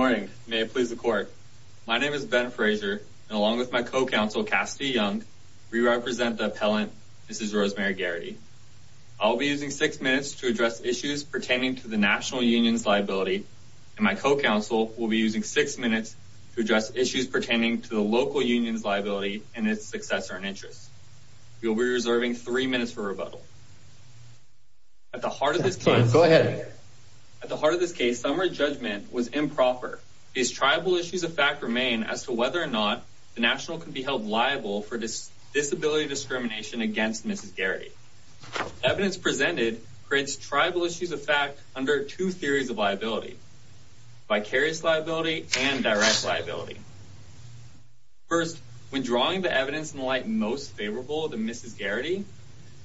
Good morning. May it please the court. My name is Ben Frazier, and along with my co-counsel, Cassidy Young, we represent the appellant Mrs. Rosemary Garity. I'll be using six minutes to address issues pertaining to the national union's liability, and my co-counsel will be using six minutes to address issues pertaining to the local union's liability and its successor in interest. You'll be reserving three minutes for rebuttal. At the heart of this case, summary judgment was improper. These tribal issues of fact remain as to whether or not the national can be held liable for disability discrimination against Mrs. Garity. Evidence presented creates tribal issues of fact under two theories of liability, vicarious liability and direct liability. First, when drawing the evidence in the light most favorable to Mrs. Garity,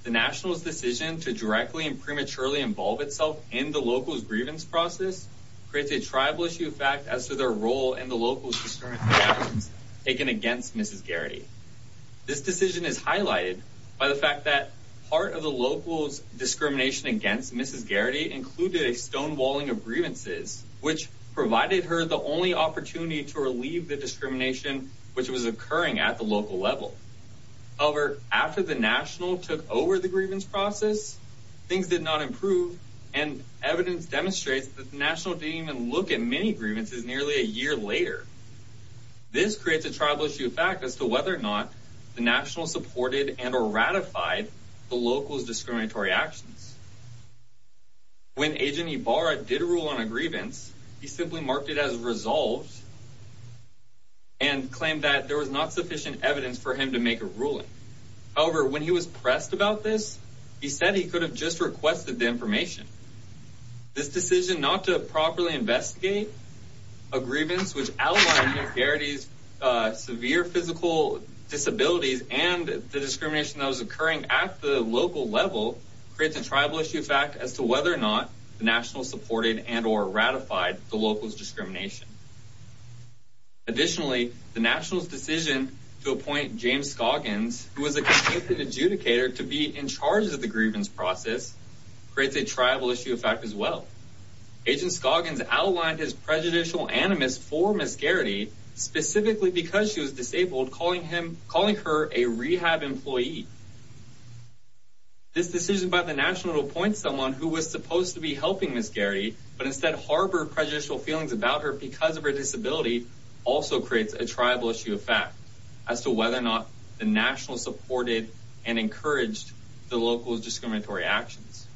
the national's decision to directly and prematurely involve itself in the local's grievance process creates a tribal issue of fact as to their role in the local's discriminatory actions taken against Mrs. Garity. This decision is highlighted by the fact that part of the local's discrimination against Mrs. Garity included a stonewalling of grievances, which provided her the only opportunity to relieve the discrimination which was occurring at the local level. However, after the national took over the grievance process, things did not improve, and evidence demonstrates that the national didn't even look at many grievances nearly a year later. This creates a tribal issue of fact as to whether or not the national supported and or ratified the local's discriminatory actions. When Agent Ibarra did rule on a grievance, he simply marked it as resolved and claimed that there was not sufficient evidence for him to make a ruling. However, when he was pressed about this, he said he could have just requested the information. This decision not to properly investigate a grievance which outlined Mrs. Garity's severe physical disabilities and the discrimination that was occurring at the local level creates a tribal issue of fact as to whether or not the national supported and or ratified the local's discrimination. Additionally, the national's decision to appoint James Scoggins, who was a convicted adjudicator, to be in charge of the grievance process creates a tribal issue of fact as well. Agent Scoggins outlined his prejudicial animus for Mrs. Garity, specifically because she was disabled, calling her a rehab employee. This decision by the national to appoint someone who was supposed to be helping Mrs. Garity but instead harbored prejudicial feelings about her because of her disability also creates a tribal issue of fact as to whether or not the national supported and encouraged the local's discriminatory actions.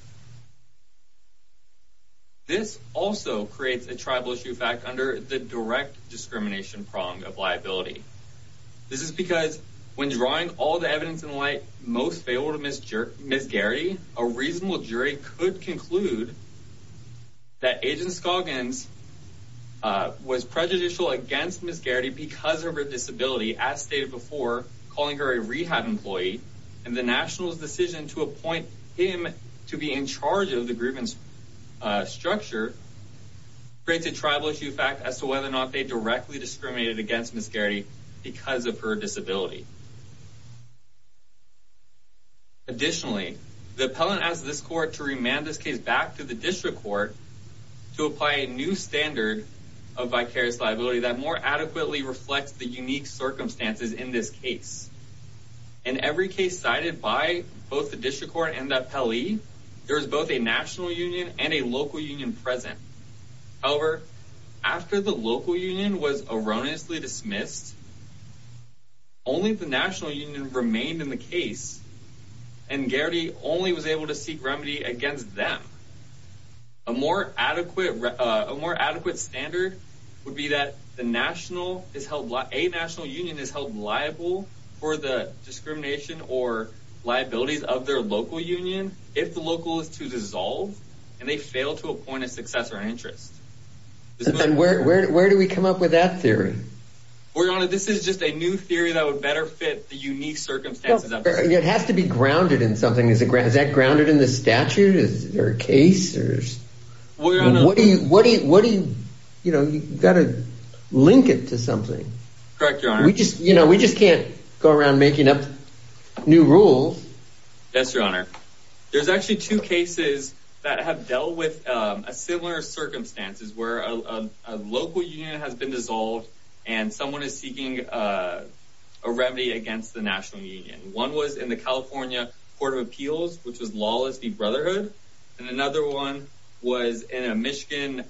This also creates a tribal issue of fact under the direct discrimination prong of liability. This is because, when drawing all the evidence in light, most favorable to Mrs. Garity, a reasonable jury could conclude that Agent Scoggins was prejudicial against Mrs. Garity because of her disability, as stated before, calling her a rehab employee. And the national's decision to appoint him to be in charge of the grievance structure creates a tribal issue of fact as to whether or not they directly discriminated against Mrs. Garity because of her disability. Additionally, the appellant asked this court to remand this case back to the district court to apply a new standard of vicarious liability that more adequately reflects the unique circumstances in this case. In every case cited by both the district court and the appellee, there is both a national union and a local union present. However, after the local union was erroneously dismissed, only the national union remained in the case, and Garity only was able to seek remedy against them. A more adequate standard would be that a national union is held liable for the discrimination or liabilities of their local union if the local is to dissolve and they fail to appoint a successor in interest. And where do we come up with that theory? Your Honor, this is just a new theory that would better fit the unique circumstances. It has to be grounded in something. Is that grounded in the statute? Is there a case? You've got to link it to something. Correct, Your Honor. We just can't go around making up new rules. Yes, Your Honor. There's actually two cases that have dealt with similar circumstances where a local union has been dissolved and someone is seeking a remedy against the national union. One was in the California Court of Appeals, which was Lawless v. Brotherhood. And another one was in a Michigan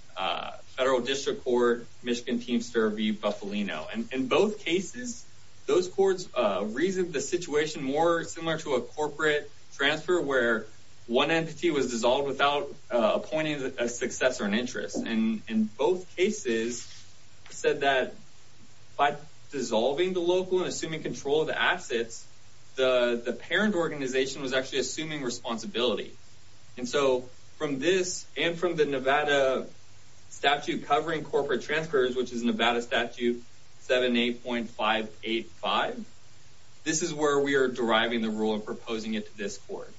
federal district court, Michigan Teamster v. Bufalino. And in both cases, those courts reasoned the situation more similar to a corporate transfer where one entity was dissolved without appointing a successor in interest. And in both cases said that by dissolving the local and assuming control of the assets, the parent organization was actually assuming responsibility. And so from this and from the Nevada statute covering corporate transfers, which is Nevada Statute 78.585, this is where we are deriving the rule and proposing it to this court.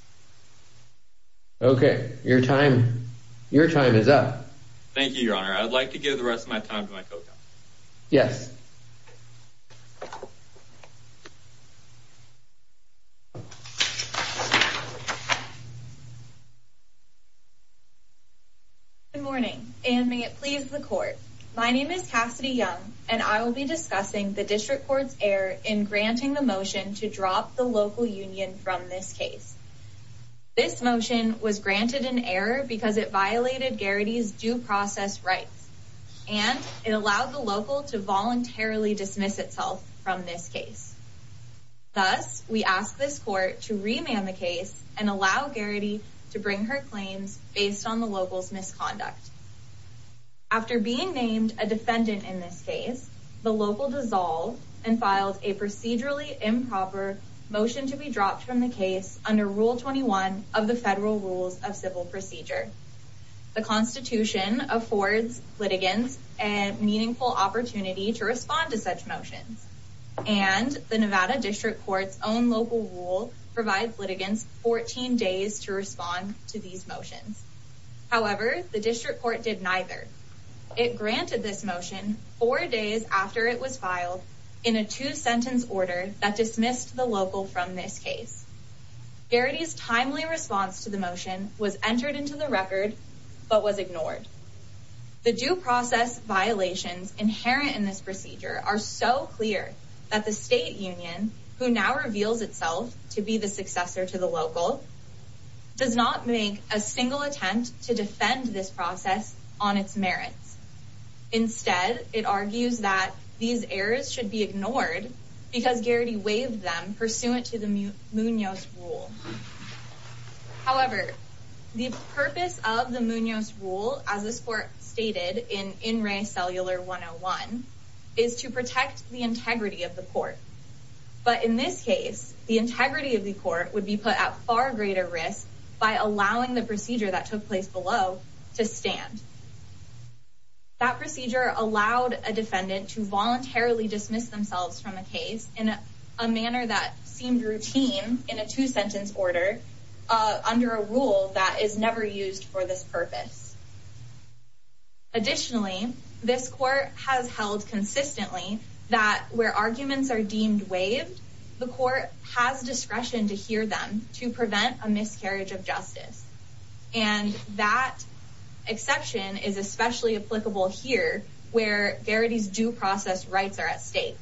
Okay, your time is up. Thank you, Your Honor. I would like to give the rest of my time to my co-counsel. Yes. Good morning, and may it please the court. My name is Cassidy Young, and I will be discussing the district court's error in granting the motion to drop the local union from this case. This motion was granted an error because it violated Garrity's due process rights, and it allowed the local to voluntarily dismiss itself from this case. Thus, we ask this court to remand the case and allow Garrity to bring her claims based on the local's misconduct. After being named a defendant in this case, the local dissolved and filed a procedurally improper motion to be dropped from the case under Rule 21 of the Federal Rules of Civil Procedure. The Constitution affords litigants a meaningful opportunity to respond to such motions, and the Nevada District Court's own local rule provides litigants 14 days to respond to these motions. However, the district court did neither. It granted this motion four days after it was filed in a two-sentence order that dismissed the local from this case. Garrity's timely response to the motion was entered into the record, but was ignored. The due process violations inherent in this procedure are so clear that the state union, who now reveals itself to be the successor to the local, does not make a single attempt to defend this process on its merits. Instead, it argues that these errors should be ignored because Garrity waived them pursuant to the Munoz rule. However, the purpose of the Munoz rule, as this court stated in In Re Cellular 101, is to protect the integrity of the court. But in this case, the integrity of the court would be put at far greater risk by allowing the procedure that took place below to stand. That procedure allowed a defendant to voluntarily dismiss themselves from a case in a manner that seemed routine in a two-sentence order under a rule that is never used for this purpose. Additionally, this court has held consistently that where arguments are deemed waived, the court has discretion to hear them to prevent a miscarriage of justice. And that exception is especially applicable here, where Garrity's due process rights are at stake.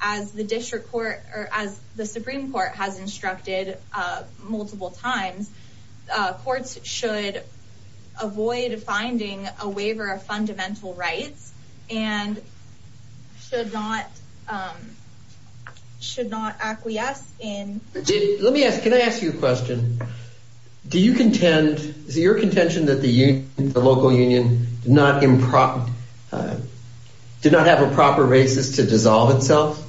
As the Supreme Court has instructed multiple times, courts should avoid finding a waiver of fundamental rights and should not acquiesce in... Let me ask, can I ask you a question? Do you contend, is it your contention that the local union did not have a proper basis to dissolve itself?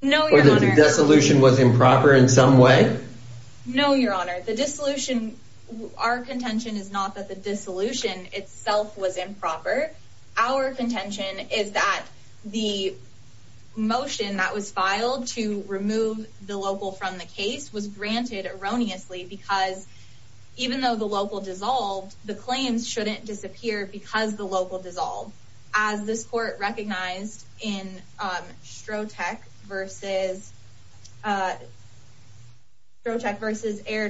No, Your Honor. Or that the dissolution was improper in some way? No, Your Honor. The dissolution, our contention is not that the dissolution itself was improper. Our contention is that the motion that was filed to remove the local from the case was granted erroneously because even though the local dissolved, the claims shouldn't disappear because the local dissolved. As this court recognized in Strotec versus Air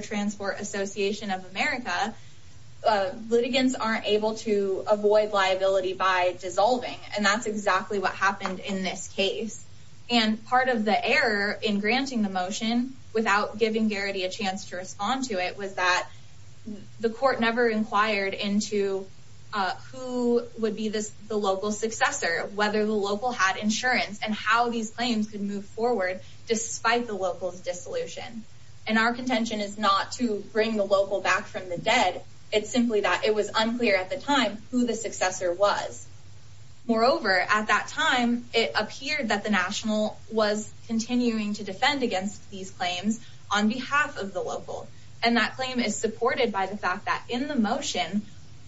Transport Association of America, litigants aren't able to avoid liability by dissolving. And that's exactly what happened in this case. And part of the error in granting the motion without giving Garrity a chance to respond to it was that the court never inquired into who would be the local successor, whether the local had insurance, and how these claims could move forward despite the local's dissolution. And our contention is not to bring the local back from the dead. It's simply that it was unclear at the time who the successor was. Moreover, at that time, it appeared that the national was continuing to defend against these claims on behalf of the local. And that claim is supported by the fact that in the motion,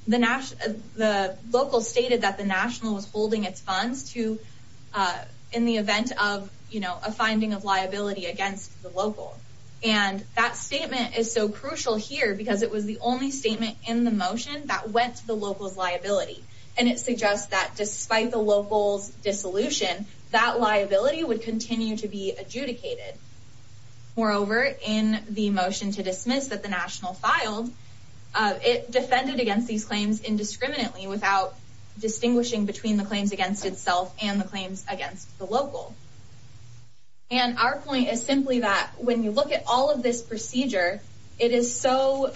the local stated that the national was holding its funds in the event of a finding of liability against the local. And that statement is so crucial here because it was the only statement in the motion that went to the local's liability. And it suggests that despite the local's dissolution, that liability would continue to be adjudicated. Moreover, in the motion to dismiss that the national filed, it defended against these claims indiscriminately without distinguishing between the claims against itself and the claims against the local. And our point is simply that when you look at all of this procedure, it is so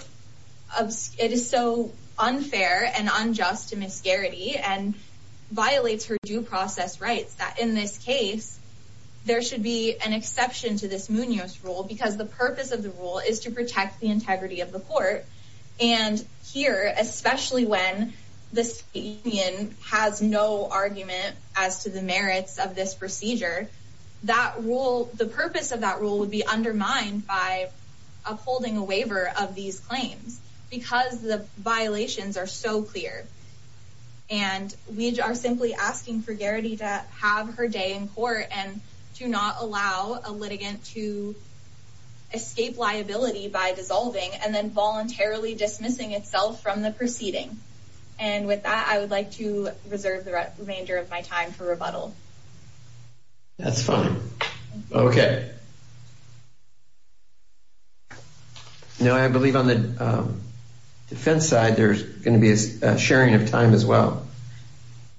unfair and unjust to Ms. Garrity and violates her due process rights that in this case, there should be an exception to this Munoz rule because the purpose of the rule is to protect the integrity of the court. And here, especially when this union has no argument as to the merits of this procedure, that rule, the purpose of that rule would be undermined by upholding a waiver of these claims because the violations are so clear. And we are simply asking for Garrity to have her day in court and to not allow a litigant to escape liability by dissolving and then voluntarily dismissing itself from the proceeding. And with that, I would like to reserve the remainder of my time for rebuttal. That's fine. Okay. Now, I believe on the defense side, there's going to be a sharing of time as well.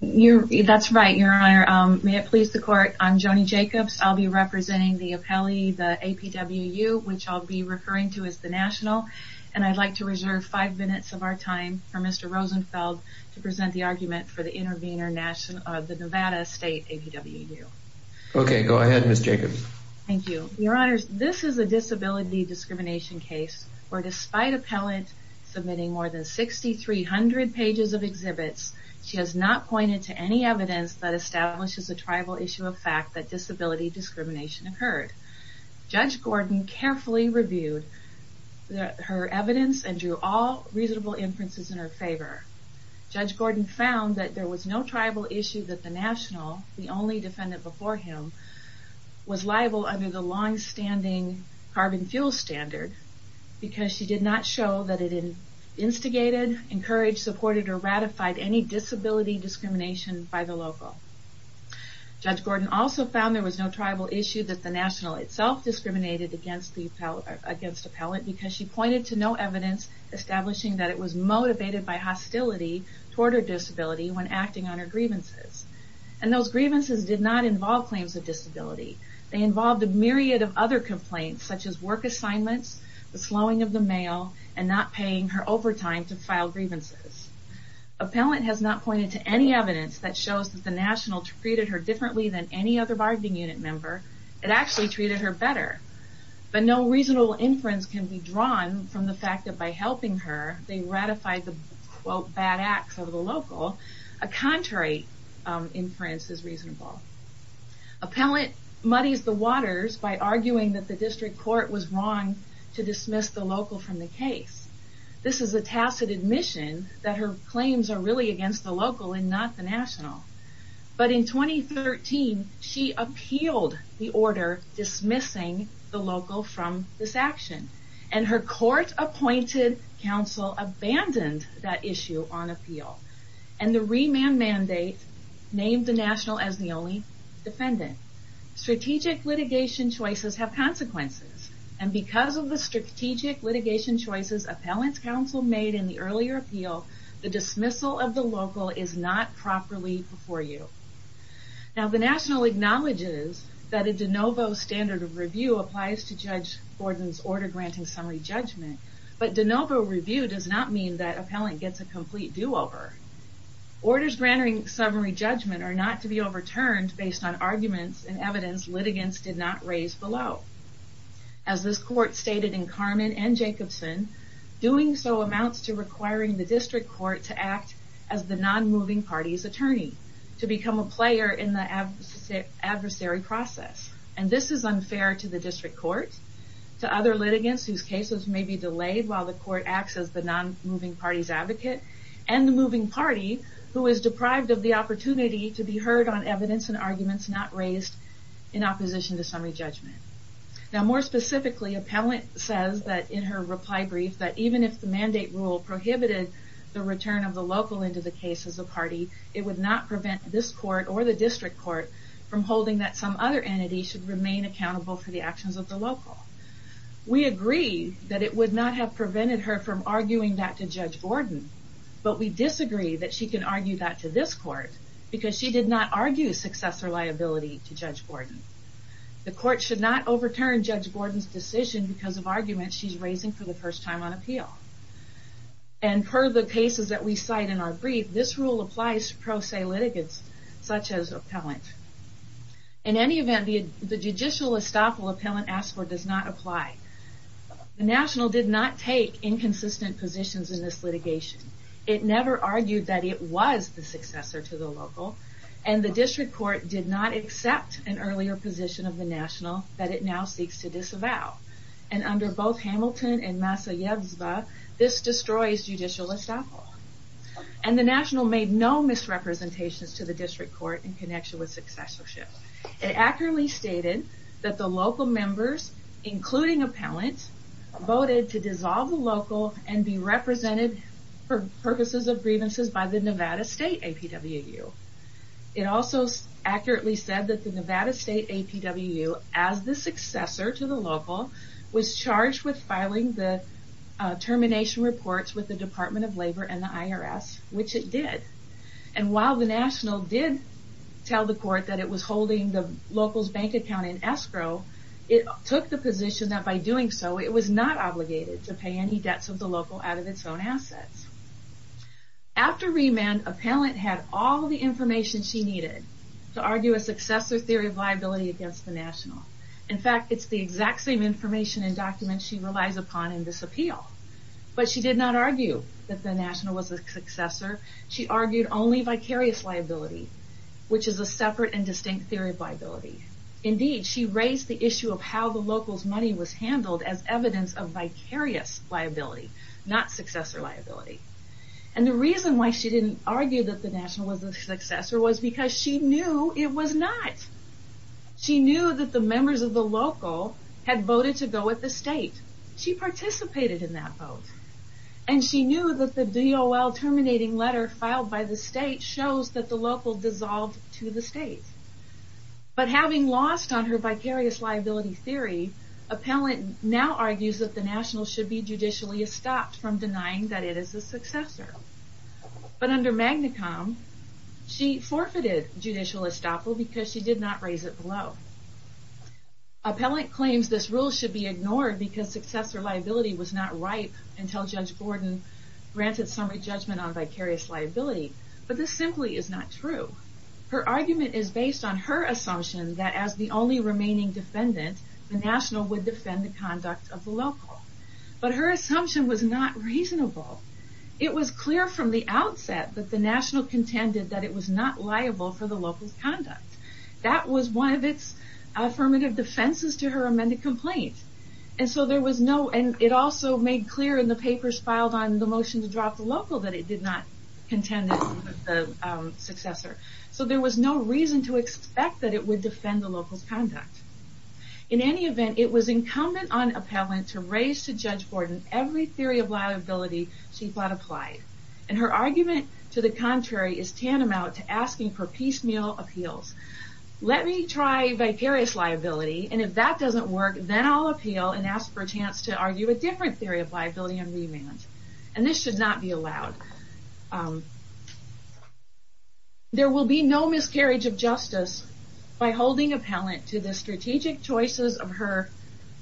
That's right, Your Honor. May it please the court, I'm Joni Jacobs. I'll be representing the appellee, the APWU, which I'll be referring to as the national. And I'd like to reserve five minutes of our time for Mr. Rosenfeld to present the argument for the intervener, the Nevada State APWU. Okay. Go ahead, Ms. Jacobs. Thank you. Your Honors, this is a disability discrimination case where despite appellant submitting more than 6,300 pages of exhibits, she has not pointed to any evidence that establishes a tribal issue of fact that disability discrimination occurred. Judge Gordon carefully reviewed her evidence and drew all reasonable inferences in her favor. Judge Gordon found that there was no tribal issue that the national, the only defendant before him, was liable under the longstanding carbon fuel standard because she did not show that it instigated, encouraged, supported, or ratified any disability discrimination by the local. Judge Gordon also found there was no tribal issue that the national itself discriminated against the appellant because she pointed to no evidence establishing that it was motivated by hostility toward her disability when acting on her grievances. And those grievances did not involve claims of disability. They involved a myriad of other complaints such as work assignments, the slowing of the mail, and not paying her overtime to file grievances. Appellant has not pointed to any evidence that shows that the national treated her differently than any other bargaining unit member. It actually treated her better. But no reasonable inference can be drawn from the fact that by helping her, they ratified the, quote, bad acts of the local. A contrary inference is reasonable. Appellant muddies the waters by arguing that the district court was wrong to dismiss the local from the case. This is a tacit admission that her claims are really against the local and not the national. But in 2013, she appealed the order dismissing the local from this action. And her court appointed counsel abandoned that issue on appeal. And the remand mandate named the national as the only defendant. Strategic litigation choices have consequences. And because of the strategic litigation choices appellant's counsel made in the earlier appeal, the dismissal of the local is not properly before you. Now the national acknowledges that a de novo standard of review applies to Judge Gordon's order granting summary judgment. But de novo review does not mean that appellant gets a complete do-over. Orders granting summary judgment are not to be overturned based on arguments and evidence litigants did not raise below. As this court stated in Carmen and Jacobson, doing so amounts to requiring the district court to act as the non-moving party's attorney. To become a player in the adversary process. And this is unfair to the district court, to other litigants whose cases may be delayed while the court acts as the non-moving party's advocate, and the moving party who is deprived of the opportunity to be heard on evidence and arguments not raised in opposition to summary judgment. Now more specifically, appellant says that in her reply brief that even if the mandate rule prohibited the return of the local into the case as a party, it would not prevent this court or the district court from holding that some other entity should remain accountable for the actions of the local. We agree that it would not have prevented her from arguing that to Judge Gordon. But we disagree that she can argue that to this court because she did not argue successor liability to Judge Gordon. The court should not overturn Judge Gordon's decision because of arguments she's raising for the first time on appeal. And per the cases that we cite in our brief, this rule applies to pro se litigants such as appellant. In any event, the judicial estoppel appellant asked for does not apply. The national did not take inconsistent positions in this litigation. It never argued that it was the successor to the local. And the district court did not accept an earlier position of the national that it now seeks to disavow. And under both Hamilton and Masayevsva, this destroys judicial estoppel. And the national made no misrepresentations to the district court in connection with successorship. It accurately stated that the local members, including appellant, voted to dissolve the local and be represented for purposes of grievances by the Nevada State APWU. It also accurately said that the Nevada State APWU, as the successor to the local, was charged with filing the termination reports with the Department of Labor and the IRS, which it did. And while the national did tell the court that it was holding the local's bank account in escrow, it took the position that by doing so, it was not obligated to pay any debts of the local out of its own assets. After remand, appellant had all the information she needed to argue a successor theory of liability against the national. In fact, it's the exact same information and documents she relies upon in this appeal. But she did not argue that the national was the successor. She argued only vicarious liability, which is a separate and distinct theory of liability. Indeed, she raised the issue of how the local's money was handled as evidence of vicarious liability, not successor liability. And the reason why she didn't argue that the national was the successor was because she knew it was not. She knew that the members of the local had voted to go with the state. She participated in that vote. And she knew that the DOL terminating letter filed by the state shows that the local dissolved to the state. But having lost on her vicarious liability theory, appellant now argues that the national should be judicially estopped from denying that it is the successor. But under MAGNICOM, she forfeited judicial estoppel because she did not raise it below. Appellant claims this rule should be ignored because successor liability was not ripe until Judge Gordon granted summary judgment on vicarious liability. But this simply is not true. Her argument is based on her assumption that as the only remaining defendant, the national would defend the conduct of the local. But her assumption was not reasonable. It was clear from the outset that the national contended that it was not liable for the local's conduct. That was one of its affirmative defenses to her amended complaint. It also made clear in the papers filed on the motion to drop the local that it did not contend with the successor. So there was no reason to expect that it would defend the local's conduct. In any event, it was incumbent on appellant to raise to Judge Gordon every theory of liability she thought applied. And her argument to the contrary is tantamount to asking for piecemeal appeals. Let me try vicarious liability, and if that doesn't work, then I'll appeal and ask for a chance to argue a different theory of liability on remand. And this should not be allowed. There will be no miscarriage of justice by holding appellant to the strategic choices of her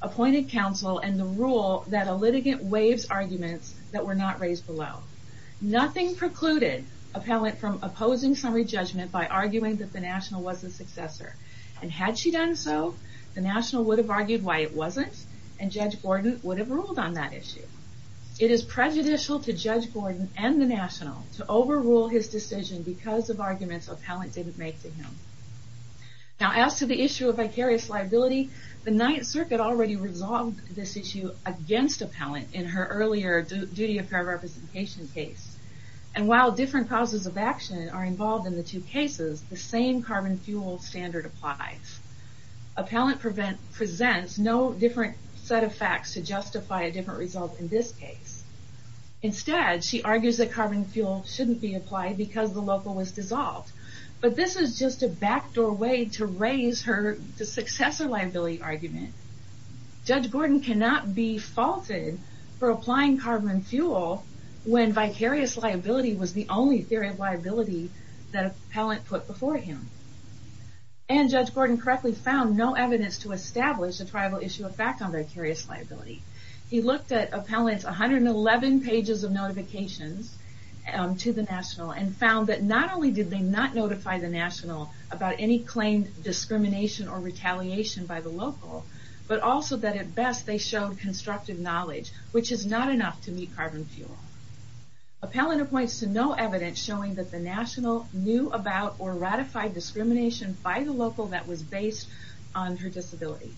appointed counsel and the rule that a litigant waives arguments that were not raised below. Nothing precluded appellant from opposing summary judgment by arguing that the national was the successor. And had she done so, the national would have argued why it wasn't, and Judge Gordon would have ruled on that issue. It is prejudicial to Judge Gordon and the national to overrule his decision because of arguments appellant didn't make to him. Now as to the issue of vicarious liability, the Ninth Circuit already resolved this issue against appellant in her earlier duty of fair representation case. And while different causes of action are involved in the two cases, the same carbon fuel standard applies. Appellant presents no different set of facts to justify a different result in this case. Instead, she argues that carbon fuel shouldn't be applied because the local was dissolved. But this is just a backdoor way to raise her successor liability argument. Judge Gordon cannot be faulted for applying carbon fuel when vicarious liability was the only theory of liability that appellant put before him. And Judge Gordon correctly found no evidence to establish a tribal issue of fact on vicarious liability. He looked at appellant's 111 pages of notifications to the national and found that not only did they not notify the national about any claimed discrimination or retaliation by the local, but also that at best they showed constructive knowledge, which is not enough to meet carbon fuel. Appellant points to no evidence showing that the national knew about or ratified discrimination by the local that was based on her disability.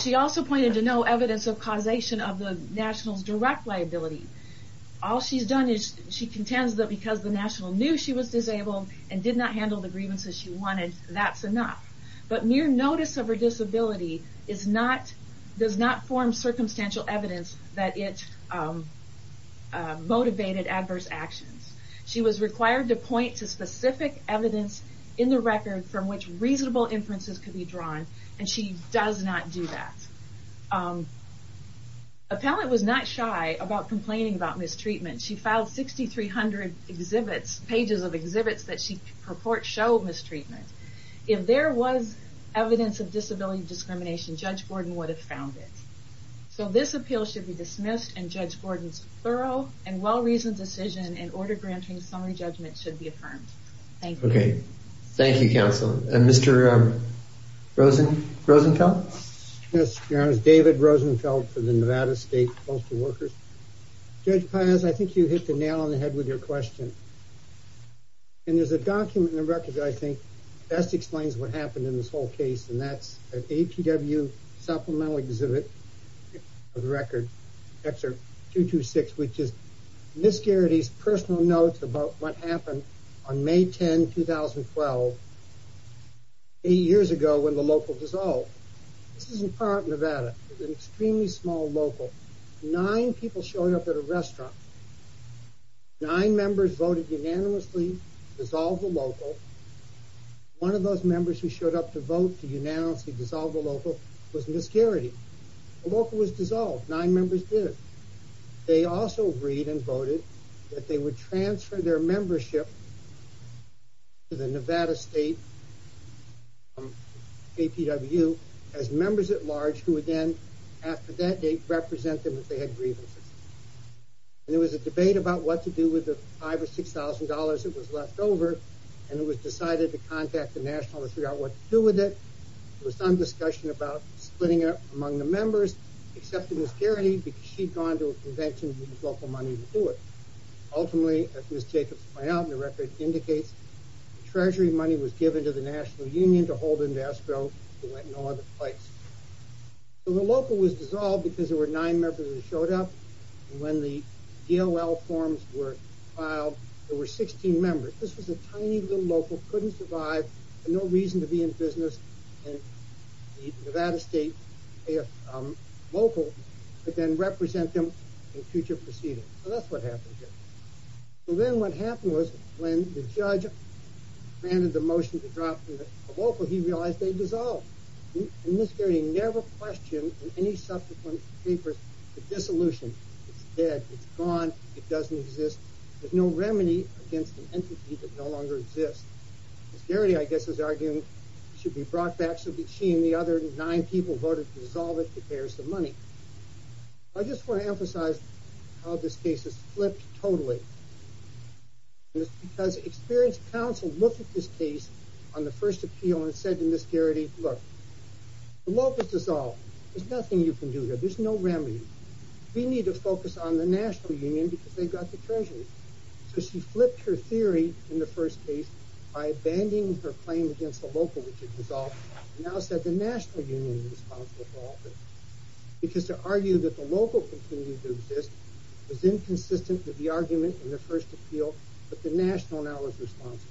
She also pointed to no evidence of causation of the national's direct liability. All she's done is contend that because the national knew she was disabled and did not handle the grievances she wanted, that's enough. But mere notice of her disability does not form circumstantial evidence that it motivated adverse actions. She was required to point to specific evidence in the record from which reasonable inferences could be drawn, and she does not do that. Appellant was not shy about complaining about mistreatment. She filed 6,300 pages of exhibits that she purports show mistreatment. If there was evidence of disability discrimination, Judge Gordon would have found it. So this appeal should be dismissed, and Judge Gordon's thorough and well-reasoned decision and order-granting summary judgment should be affirmed. Thank you. Okay. Thank you, Counsel. And Mr. Rosenfeld? Yes, Your Honor. David Rosenfeld for the Nevada State Postal Workers. Judge Paz, I think you hit the nail on the head with your question. And there's a document in the record that I think best explains what happened in this whole case, and that's an APWU supplemental exhibit of the record, Excerpt 226, which is Ms. Garrity's personal notes about what happened on May 10, 2012, eight years ago when the local dissolved. This is in Park, Nevada. It was an extremely small local. Nine people showed up at a restaurant. Nine members voted unanimously to dissolve the local. One of those members who showed up to vote to unanimously dissolve the local was Ms. Garrity. The local was dissolved. Nine members did. They also agreed and voted that they would transfer their membership to the Nevada State APWU as members-at-large who would then, after that date, represent them if they had grievances. And there was a debate about what to do with the $5,000 or $6,000 that was left over, and it was decided to contact the National to figure out what to do with it. There was some discussion about splitting it up among the members, except for Ms. Garrity because she'd gone to a convention and used local money to do it. Ultimately, as Ms. Jacobs pointed out in the record, it indicates the treasury money was given to the National Union to hold in Vastro. It went no other place. The local was dissolved because there were nine members who showed up, and when the DOL forms were filed, there were 16 members. This was a tiny little local, couldn't survive, had no reason to be in business, and the Nevada State local could then represent them in future proceedings. So that's what happened here. So then what happened was when the judge granted the motion to drop the local, he realized they dissolved. Ms. Garrity never questioned in any subsequent papers the dissolution. It's dead. It's gone. It doesn't exist. There's no remedy against an entity that no longer exists. Ms. Garrity, I guess, is arguing it should be brought back so that she and the other nine people voted to dissolve it to pay her some money. I just want to emphasize how this case has flipped totally. It's because experienced counsel looked at this case on the first appeal and said to Ms. Garrity, look, the local's dissolved. There's nothing you can do here. There's no remedy. We need to focus on the national union because they've got the treasuries. So she flipped her theory in the first case by abandoning her claim against the local, which had dissolved, and now said the national union was responsible for all this. Because to argue that the local continued to exist was inconsistent with the argument in the first appeal, but the national now was responsible.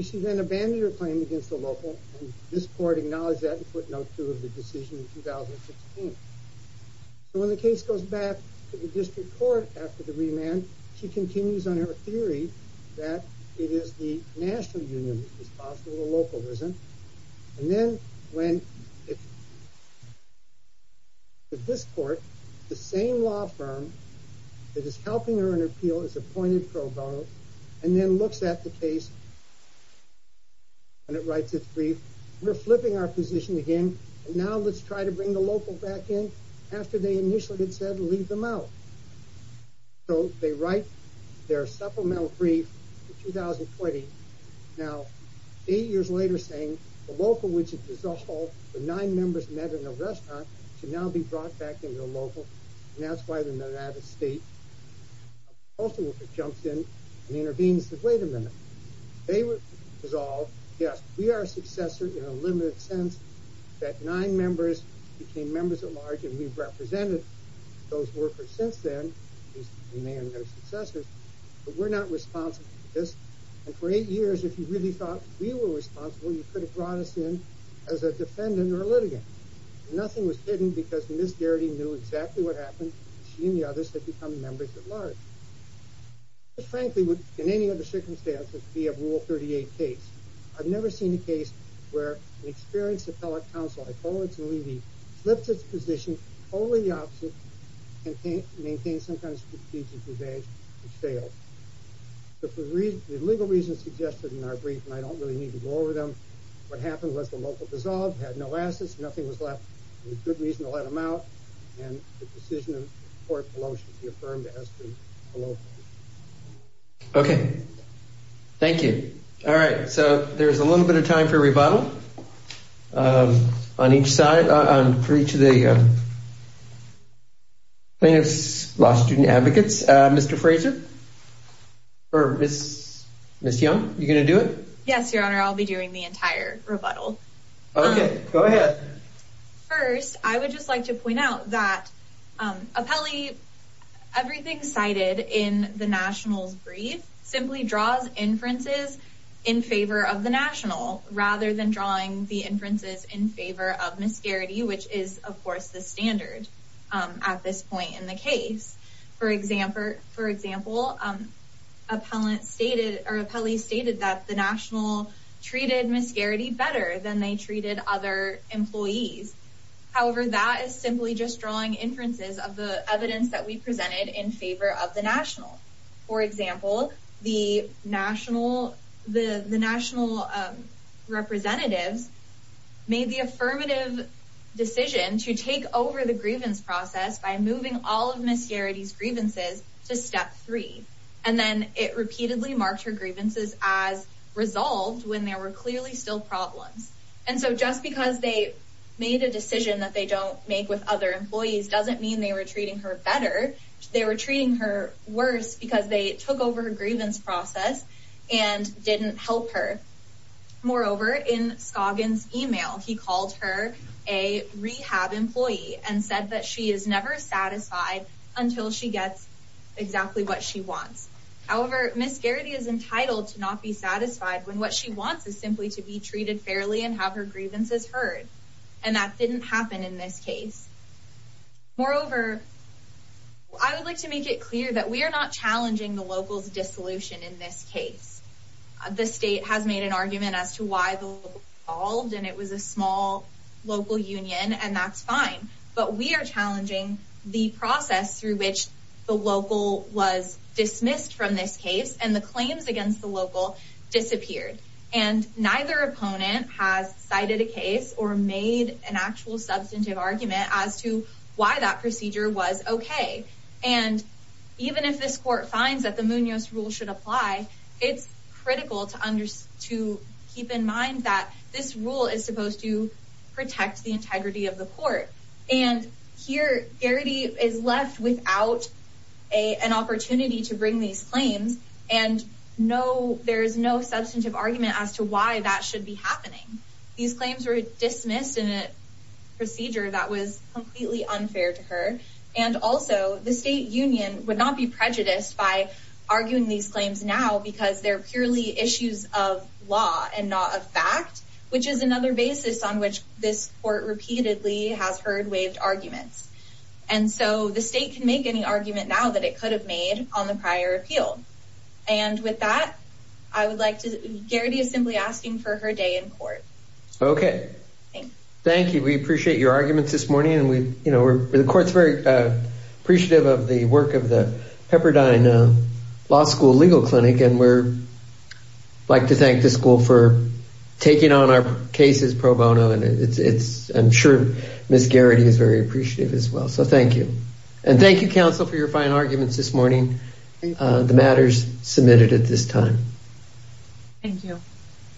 She then abandoned her claim against the local, and this court acknowledged that and put no two of the decision in 2016. So when the case goes back to the district court after the remand, she continues on her theory that it is the national union that is responsible for localism. And then when this court, the same law firm that is helping her in her appeal is appointed pro bono and then looks at the case and it writes its brief. We're flipping our position again, and now let's try to bring the local back in after they initially had said leave them out. So they write their supplemental brief in 2020. Now, eight years later, saying the local, which had dissolved, the nine members met in a restaurant, should now be brought back into the local, and that's why they're not out of state. A postal worker jumps in and intervenes and says, wait a minute. They were dissolved. Yes, we are a successor in a limited sense that nine members became members at large, and we've represented those workers since then. We may have been their successors, but we're not responsible for this. And for eight years, if you really thought we were responsible, you could have brought us in as a defendant or a litigant. Nothing was hidden because Ms. Garrity knew exactly what happened. She and the others had become members at large. This, frankly, would, in any other circumstances, be a Rule 38 case. I've never seen a case where an experienced appellate counsel, like Owens and Levy, flips its position totally the opposite and maintains some kind of strategic advantage and fails. But for the legal reasons suggested in our brief, and I don't really need to go over them, what happened was the local dissolved, had no assets, nothing was left. There's good reason to let them out. And the decision of the court below should be affirmed as to below. OK, thank you. All right. So there's a little bit of time for rebuttal on each side and for each of the plaintiff's law student advocates. Mr. Fraser or Ms. Young, are you going to do it? Yes, Your Honor. I'll be doing the entire rebuttal. OK, go ahead. First, I would just like to point out that appellee, everything cited in the nationals brief simply draws inferences in favor of the national rather than drawing the inferences in favor of Ms. Garrity, which is, of course, the standard at this point in the case. For example, appellant stated or appellee stated that the national treated Ms. Garrity better than they treated other employees. However, that is simply just drawing inferences of the evidence that we presented in favor of the national. For example, the national representatives made the affirmative decision to take over the grievance process by moving all of Ms. Garrity's grievances to step three. And then it repeatedly marked her grievances as resolved when there were clearly still problems. And so just because they made a decision that they don't make with other employees doesn't mean they were treating her better. They were treating her worse because they took over her grievance process and didn't help her. Moreover, in Scoggins' email, he called her a rehab employee and said that she is never satisfied until she gets exactly what she wants. However, Ms. Garrity is entitled to not be satisfied when what she wants is simply to be treated fairly and have her grievances heard. And that didn't happen in this case. Moreover, I would like to make it clear that we are not challenging the locals' dissolution in this case. The state has made an argument as to why the local was involved, and it was a small local union, and that's fine. But we are challenging the process through which the local was dismissed from this case and the claims against the local disappeared. And neither opponent has cited a case or made an actual substantive argument as to why that procedure was okay. And even if this court finds that the Munoz rule should apply, it's critical to keep in mind that this rule is supposed to protect the integrity of the court. And here, Garrity is left without an opportunity to bring these claims, and there is no substantive argument as to why that should be happening. These claims were dismissed in a procedure that was completely unfair to her. And also, the state union would not be prejudiced by arguing these claims now because they're purely issues of law and not of fact, which is another basis on which this court repeatedly has heard waived arguments. And so the state can make any argument now that it could have made on the prior appeal. And with that, I would like to – Garrity is simply asking for her day in court. Okay. Thank you. We appreciate your arguments this morning. The court's very appreciative of the work of the Pepperdine Law School Legal Clinic, and we'd like to thank the school for taking on our cases pro bono. I'm sure Ms. Garrity is very appreciative as well, so thank you. And thank you, counsel, for your fine arguments this morning. The matter's submitted at this time. Thank you.